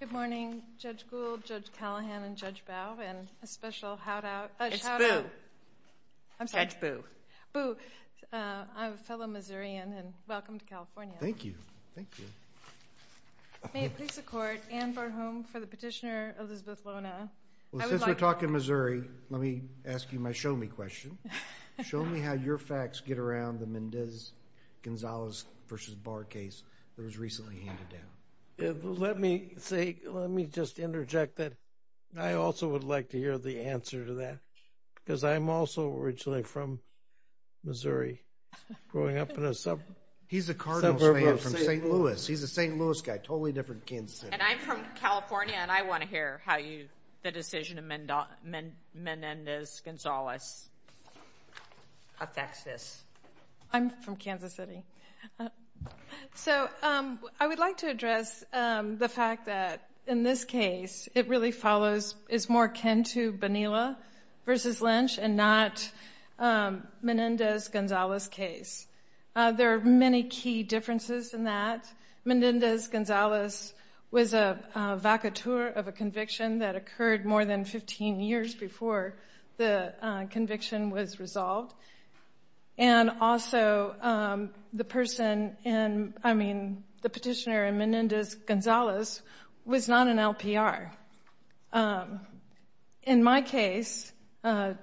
Good morning, Judge Gould, Judge Callahan, and Judge Bowe, and a special shout-out to Judge Boo. Boo, I'm a fellow Missourian, and welcome to California. Thank you, thank you. May it please the Court, Anne Barhom for the petitioner, Elizabeth Lona. Well, since we're talking Missouri, let me ask you my show-me question. Show me how your facts get around the Mendez-Gonzalez v. Barr case that was recently handed down. Let me say, let me just interject that I also would like to hear the answer to that, because I'm also originally from Missouri, growing up in a suburb of St. Louis. He's a St. Louis guy, totally different from Kansas City. And I'm from California, and I want to hear how the decision of Mendez-Gonzalez affects this. I'm from Kansas City. So I would like to address the fact that in this case, it really follows, is more Kentu-Banila v. Lynch, and not Mendez-Gonzalez case. There are many key differences in that. Mendez-Gonzalez was a vacatur of a conviction that occurred more than 15 years before the conviction was resolved. And also, the petitioner in Mendez-Gonzalez was not an LPR. In my case, the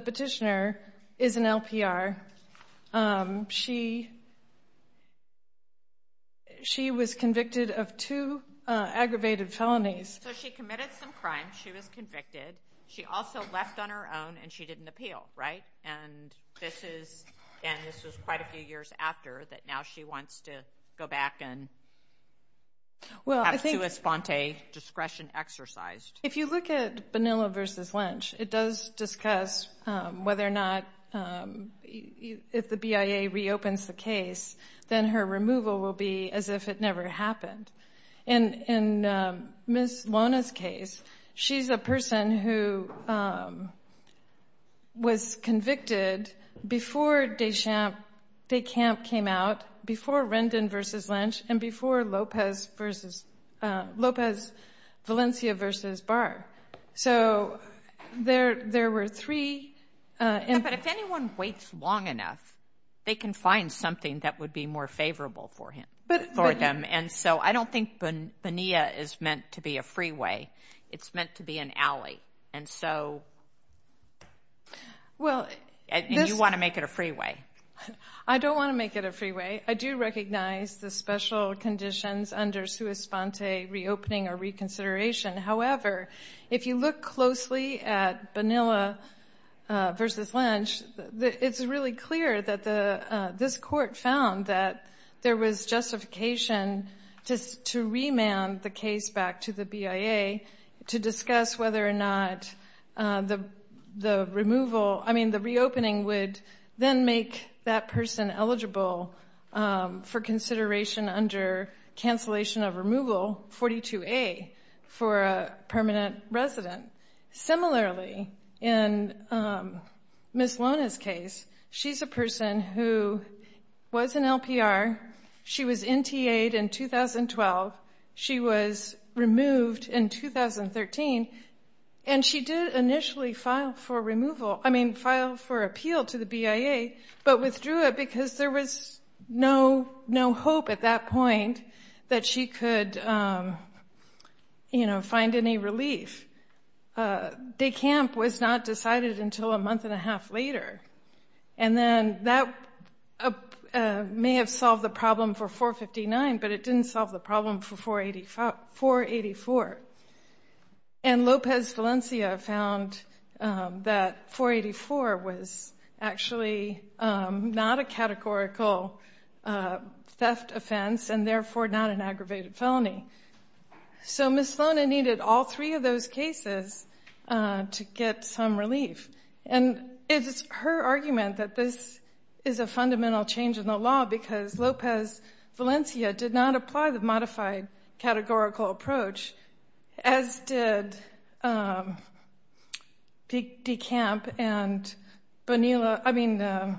petitioner is an LPR. She was convicted of two aggravated felonies. So she committed some crime. She was convicted. She also left on her own, and she didn't appeal, right? And this was quite a few years after that. Now she wants to go back and have two esponte discretion exercised. If you look at Banila v. Lynch, it does discuss whether or not if the BIA reopens the case, then her removal will be as if it never happened. In Ms. Lona's case, she's a person who was convicted before DeCamp came out, before Rendon v. Lynch, and before Lopez Valencia v. Barr. So there were three. But if anyone waits long enough, they can find something that would be more favorable for them. And so I don't think Banila is meant to be a freeway. It's meant to be an alley. And you want to make it a freeway. I don't want to make it a freeway. I do recognize the special conditions under sua esponte reopening or reconsideration. However, if you look closely at Banila v. Lynch, it's really clear that this court found that there was justification to remand the case back to the BIA to discuss whether or not the reopening would then make that person eligible for consideration under cancellation of removal, 42A, for a permanent resident. Similarly, in Ms. Lona's case, she's a person who was an LPR. She was NTA'd in 2012. She was removed in 2013. And she did initially file for appeal to the BIA, but withdrew it because there was no hope at that point that she could, you know, find any relief. Decamp was not decided until a month and a half later. And then that may have solved the problem for 459, but it didn't solve the problem for 484. And Lopez Valencia found that 484 was actually not a categorical theft offense and therefore not an aggravated felony. So Ms. Lona needed all three of those cases to get some relief. And it's her argument that this is a fundamental change in the law because Lopez Valencia did not apply the modified categorical approach, as did Decamp and Rendon.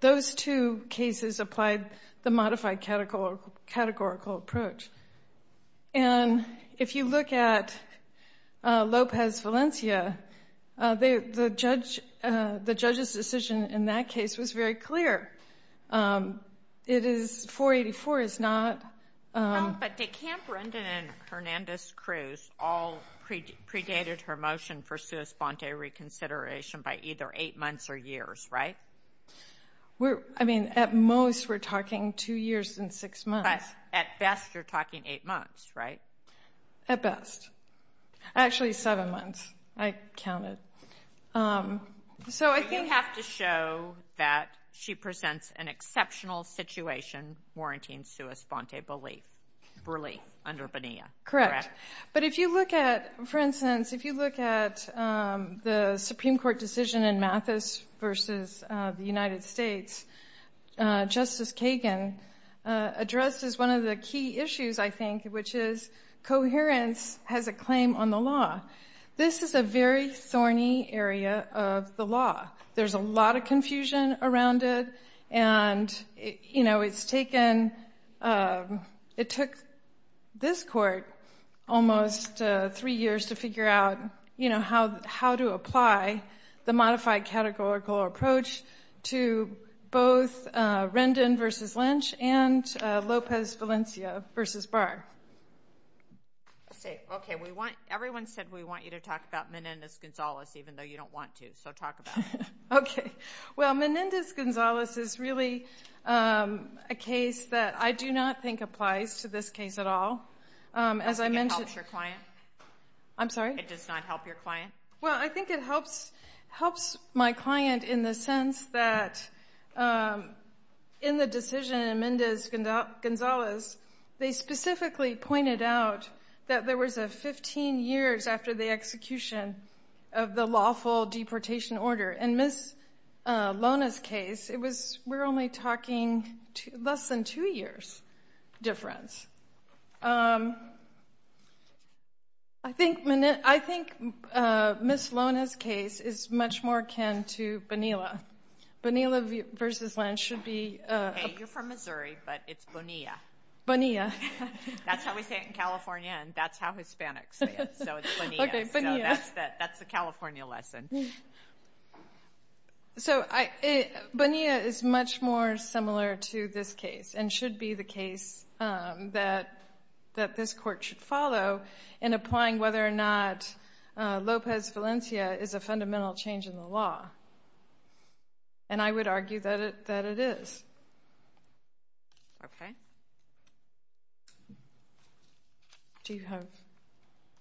Those two cases applied the modified categorical approach. And if you look at Lopez Valencia, the judge's decision in that case was very clear. It is 484 is not. But Decamp, Rendon, and Hernandez-Cruz all predated her motion for sui sponte reconsideration by either eight months or years, right? I mean, at most we're talking two years and six months. But at best you're talking eight months, right? At best. Actually, seven months. I counted. So I think you have to show that she presents an exceptional situation warranting sui sponte relief under Bonilla. Correct. But if you look at, for instance, if you look at the Supreme Court decision in Mathis versus the United States, Justice Kagan addresses one of the key issues, I think, which is coherence has a claim on the law. This is a very thorny area of the law. There's a lot of confusion around it, and, you know, it's taken this court almost three years to figure out, you know, how to apply the modified categorical approach to both Rendon versus Lynch and Lopez-Valencia versus Barr. Okay. Everyone said we want you to talk about Menendez-Gonzalez, even though you don't want to. So talk about it. Okay. Well, Menendez-Gonzalez is really a case that I do not think applies to this case at all. I think it helps your client. I'm sorry? It does not help your client. Well, I think it helps my client in the sense that in the decision in Menendez-Gonzalez, they specifically pointed out that there was a 15 years after the execution of the lawful deportation order. In Ms. Lona's case, we're only talking less than two years difference. I think Ms. Lona's case is much more akin to Bonilla. Bonilla versus Lynch should be... Okay. You're from Missouri, but it's Bonilla. Bonilla. That's how we say it in California, and that's how Hispanics say it. So it's Bonilla. That's the California lesson. So Bonilla is much more similar to this case and should be the case that this court should follow in applying whether or not Lopez-Valencia is a fundamental change in the law, and I would argue that it is. Okay. Do you have...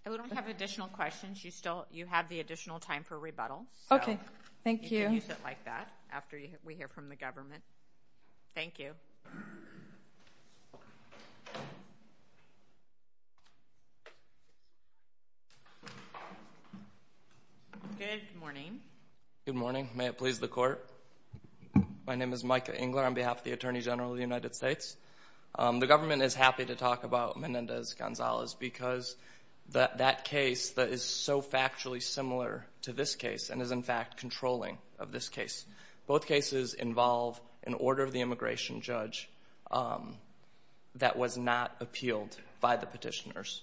I don't have additional questions. You have the additional time for rebuttal. Okay. Thank you. You can use it like that after we hear from the government. Thank you. Good morning. Good morning. May it please the Court. My name is Micah Engler on behalf of the Attorney General of the United States. The government is happy to talk about Menendez-Gonzalez because that case is so factually similar to this case and is, in fact, controlling of this case. Both cases involve an order of the immigration judge that was not appealed by the petitioners.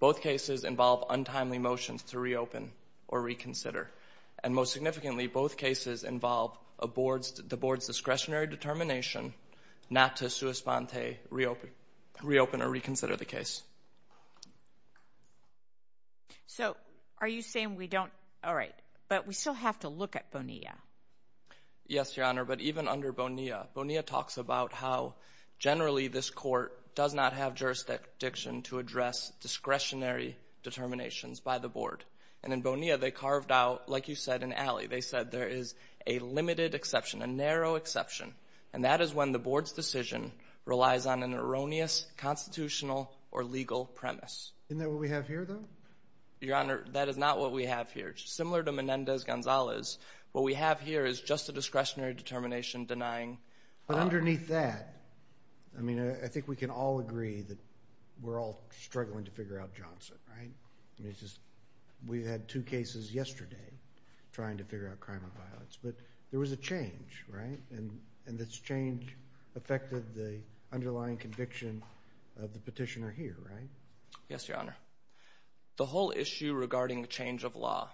Both cases involve untimely motions to reopen or reconsider, and most significantly, both cases involve the Board's discretionary determination not to sui sponte, reopen or reconsider the case. So are you saying we don't... All right, but we still have to look at Bonilla. Yes, Your Honor, but even under Bonilla, Bonilla talks about how generally this court does not have jurisdiction to address discretionary determinations by the Board, and in Bonilla they carved out, like you said, an alley. They said there is a limited exception, a narrow exception, and that is when the Board's decision relies on an erroneous constitutional or legal premise. Isn't that what we have here, though? Your Honor, that is not what we have here. Similar to Menendez-Gonzalez, what we have here is just a discretionary determination denying... But underneath that, I mean, I think we can all agree that we're all struggling to figure out Johnson, right? I mean, it's just we had two cases yesterday trying to figure out crime and violence, but there was a change, right? And this change affected the underlying conviction of the petitioner here, right? Yes, Your Honor. The whole issue regarding the change of law,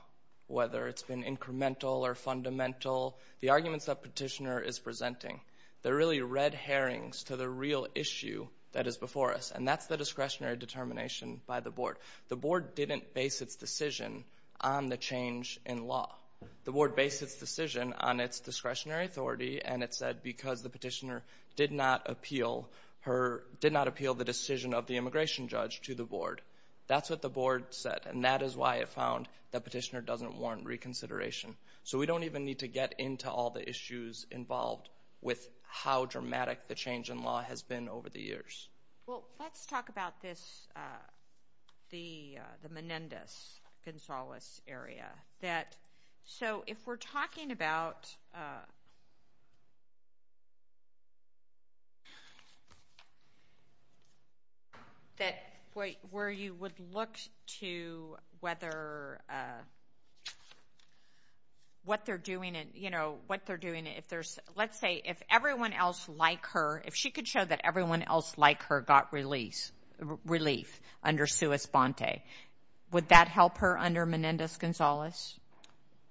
whether it's been incremental or fundamental, the arguments that the petitioner is presenting, they're really red herrings to the real issue that is before us, and that's the discretionary determination by the Board. The Board didn't base its decision on the change in law. The Board based its decision on its discretionary authority, and it said because the petitioner did not appeal the decision of the immigration judge to the Board. That's what the Board said, and that is why it found the petitioner doesn't warrant reconsideration. So we don't even need to get into all the issues involved with how dramatic the change in law has been over the years. Well, let's talk about this, the Menendez-Gonzalez area. So if we're talking about where you would look to whether what they're doing, you know, what they're doing, if there's, let's say, if everyone else like her, if she could show that everyone else like her got relief under Suis Bonte, would that help her under Menendez-Gonzalez?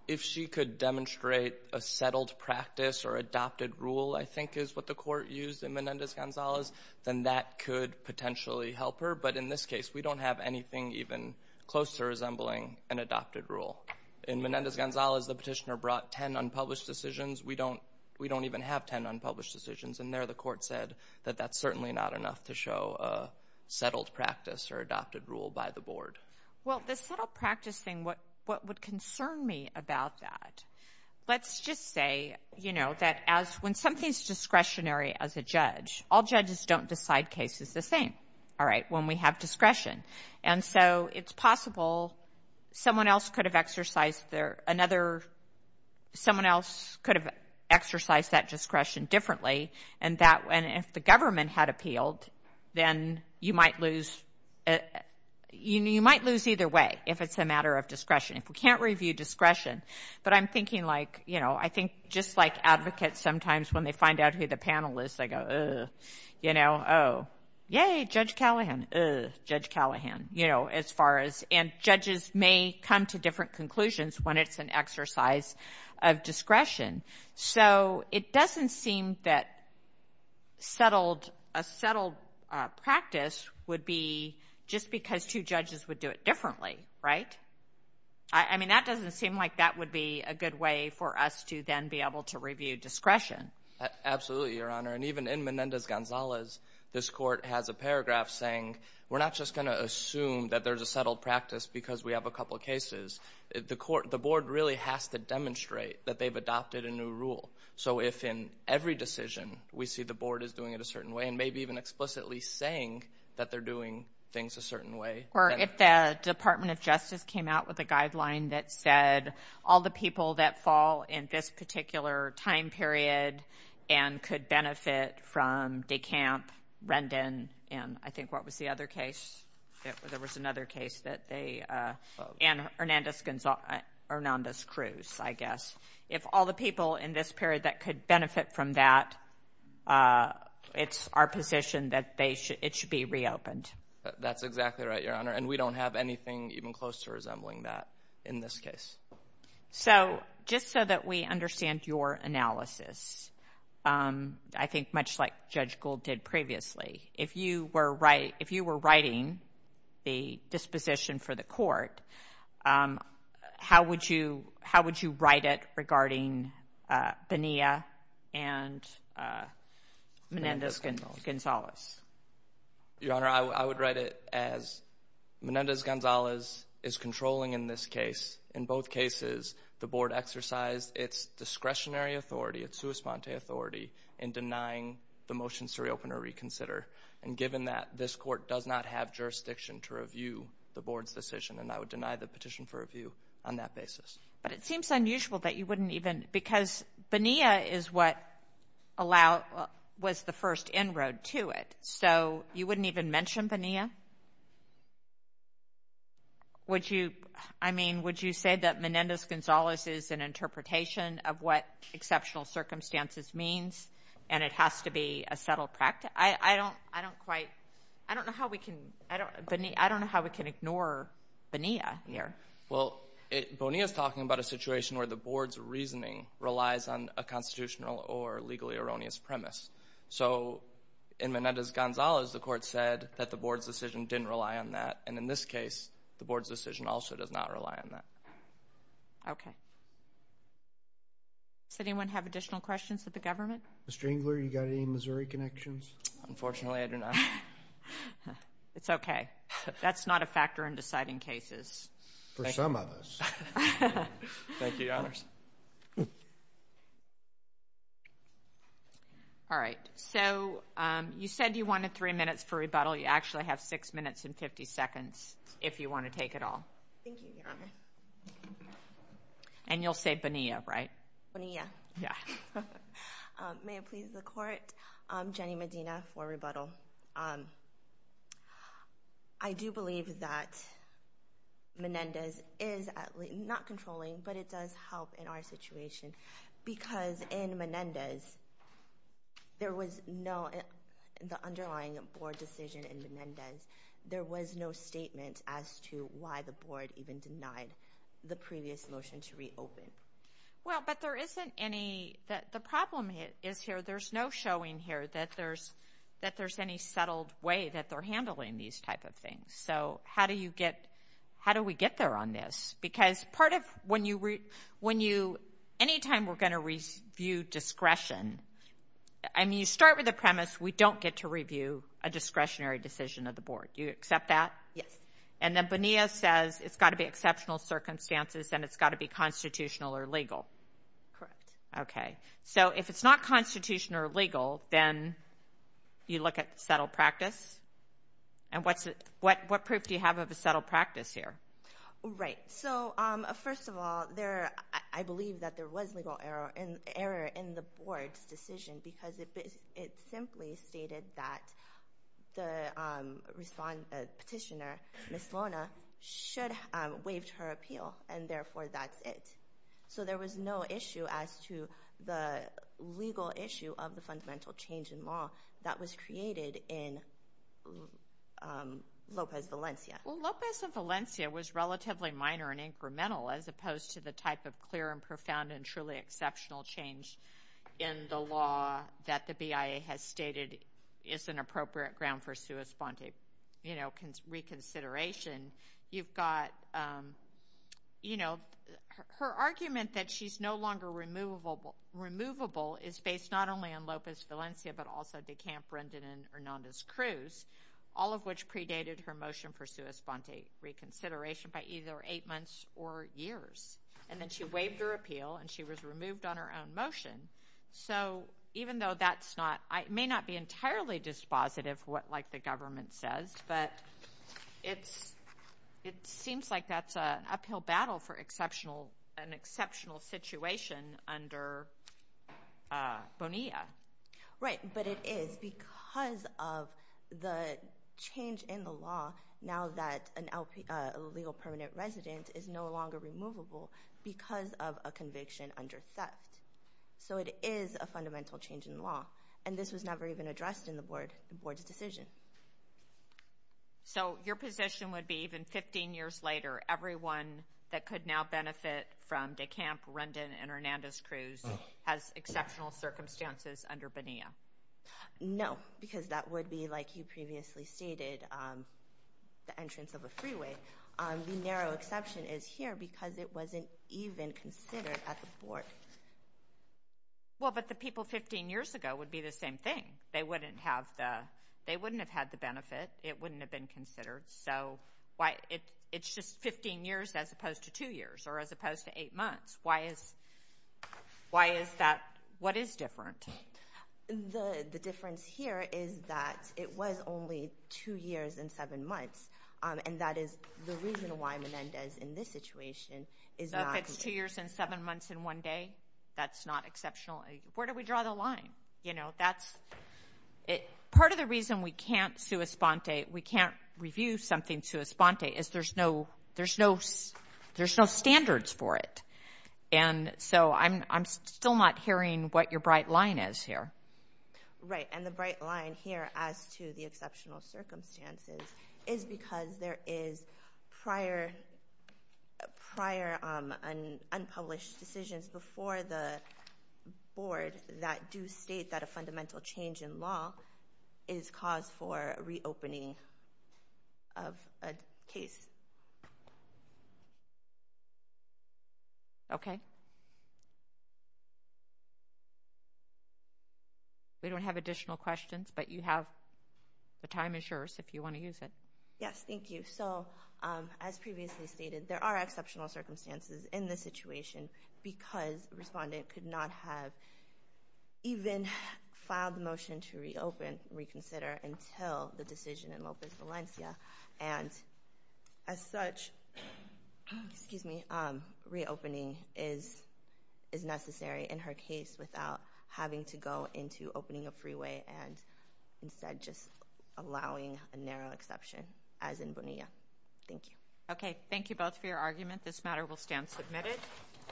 If she could demonstrate a settled practice or adopted rule, I think, is what the Court used in Menendez-Gonzalez, then that could potentially help her. But in this case, we don't have anything even close to resembling an adopted rule. In Menendez-Gonzalez, the petitioner brought 10 unpublished decisions. We don't even have 10 unpublished decisions. And there the Court said that that's certainly not enough to show a settled practice or adopted rule by the Board. Well, the settled practice thing, what would concern me about that, let's just say, you know, that when something's discretionary as a judge, all judges don't decide cases the same, all right, when we have discretion. And so it's possible someone else could have exercised their, another, someone else could have exercised that discretion differently, and if the government had appealed, then you might lose either way if it's a matter of discretion. If we can't review discretion. But I'm thinking like, you know, I think just like advocates sometimes when they find out who the panel is, they go, ugh, you know, oh, yay, Judge Callahan, ugh, Judge Callahan, you know, as far as, and judges may come to different conclusions when it's an exercise of discretion. So it doesn't seem that settled, a settled practice would be just because two judges would do it differently, right? I mean, that doesn't seem like that would be a good way for us to then be able to review discretion. Absolutely, Your Honor, and even in Menendez-Gonzalez, this court has a paragraph saying we're not just going to assume that there's a settled practice because we have a couple cases. The court, the board really has to demonstrate that they've adopted a new rule. So if in every decision we see the board is doing it a certain way, and maybe even explicitly saying that they're doing things a certain way. Or if the Department of Justice came out with a guideline that said all the people that fall in this particular time period and could benefit from DeCamp, Rendon, and I think what was the other case? There was another case that they, and Hernandez-Cruz, I guess. If all the people in this period that could benefit from that, it's our position that it should be reopened. That's exactly right, Your Honor, and we don't have anything even close to resembling that in this case. So just so that we understand your analysis, I think much like Judge Gould did previously, if you were writing the disposition for the court, how would you write it regarding Bonilla and Menendez-Gonzalez? Your Honor, I would write it as Menendez-Gonzalez is controlling in this case. In both cases, the board exercised its discretionary authority, its sua sponte authority, in denying the motions to reopen or reconsider. And given that, this court does not have jurisdiction to review the board's decision, and I would deny the petition for review on that basis. But it seems unusual that you wouldn't even, because Bonilla is what allowed, was the first inroad to it. So you wouldn't even mention Bonilla? Would you, I mean, would you say that Menendez-Gonzalez is an interpretation of what exceptional circumstances means and it has to be a settled practice? I don't quite, I don't know how we can, I don't know how we can ignore Bonilla here. Well, Bonilla is talking about a situation where the board's reasoning relies on a constitutional or legally erroneous premise. So in Menendez-Gonzalez, the court said that the board's decision didn't rely on that, and in this case, the board's decision also does not rely on that. Okay. Does anyone have additional questions of the government? Ms. Strangler, you got any Missouri connections? Unfortunately, I do not. It's okay. That's not a factor in deciding cases. For some of us. Thank you, Your Honors. All right. So you said you wanted three minutes for rebuttal. You actually have six minutes and 50 seconds if you want to take it all. Thank you, Your Honor. And you'll say Bonilla, right? Bonilla. Yeah. May it please the court, I'm Jenny Medina for rebuttal. I do believe that Menendez is not controlling, but it does help in our situation because in Menendez, there was no, the underlying board decision in Menendez, there was no statement as to why the board even denied the previous motion to reopen. Well, but there isn't any, the problem is here, there's no showing here that there's any settled way that they're handling these type of things. So how do you get, how do we get there on this? Because part of, when you, anytime we're going to review discretion, I mean, you start with the premise we don't get to review a discretionary decision of the board. Do you accept that? Yes. And then Bonilla says it's got to be exceptional circumstances and it's got to be constitutional or legal. Correct. Okay. So if it's not constitutional or legal, then you look at settled practice? And what's it, what proof do you have of a settled practice here? Right. So first of all, there, I believe that there was legal error in the board's decision because it simply stated that the petitioner, Ms. Lona, should have waived her appeal and therefore that's it. So there was no issue as to the legal issue of the fundamental change in law that was created in Lopez Valencia. Well, Lopez Valencia was relatively minor and incremental as opposed to the type of profound and truly exceptional change in the law that the BIA has stated is an appropriate ground for sua sponte, you know, reconsideration. You've got, you know, her argument that she's no longer removable is based not only on Lopez Valencia but also DeCamp, Brendan, and Hernandez-Cruz, all of which predated her motion for sua sponte reconsideration by either eight months or years. And then she waived her appeal and she was removed on her own motion. So even though that's not, it may not be entirely dispositive like the government says, but it's, it seems like that's an uphill battle for exceptional, an exceptional situation under Bonilla. Right. But it is because of the change in the law now that a legal permanent resident is no longer removable because of a conviction under theft. So it is a fundamental change in the law. And this was never even addressed in the board, the board's decision. So your position would be even 15 years later, everyone that could now benefit from DeCamp, Brendan, and Hernandez-Cruz has exceptional circumstances under Bonilla? No, because that would be like you previously stated, the entrance of a freeway. The narrow exception is here because it wasn't even considered at the board. Well, but the people 15 years ago would be the same thing. They wouldn't have the, they wouldn't have had the benefit. It wouldn't have been considered. So why, it's just 15 years as opposed to two years or as opposed to eight months. Why is, why is that, what is different? The difference here is that it was only two years and seven months. And that is the reason why Menendez in this situation is not. If it's two years and seven months in one day, that's not exceptional. Where do we draw the line? You know, that's, part of the reason we can't sui sponte, we can't review something sui sponte, is there's no, there's no, there's no standards for it. And so I'm, I'm still not hearing what your bright line is here. Right, and the bright line here as to the exceptional circumstances is because there is prior, prior unpublished decisions before the board that do state that a fundamental change in law is cause for reopening of a case. Okay. We don't have additional questions, but you have, the time is yours if you want to use it. Yes, thank you. So as previously stated, there are exceptional circumstances in this situation because a respondent could not have even filed a motion to reopen, reconsider, until the decision in Lopez Valencia. And as such, excuse me, reopening is, is necessary in her case without having to go into opening a freeway and instead just allowing a narrow exception as in Bonilla. Thank you. Okay, thank you both for your argument. This matter will stand submitted.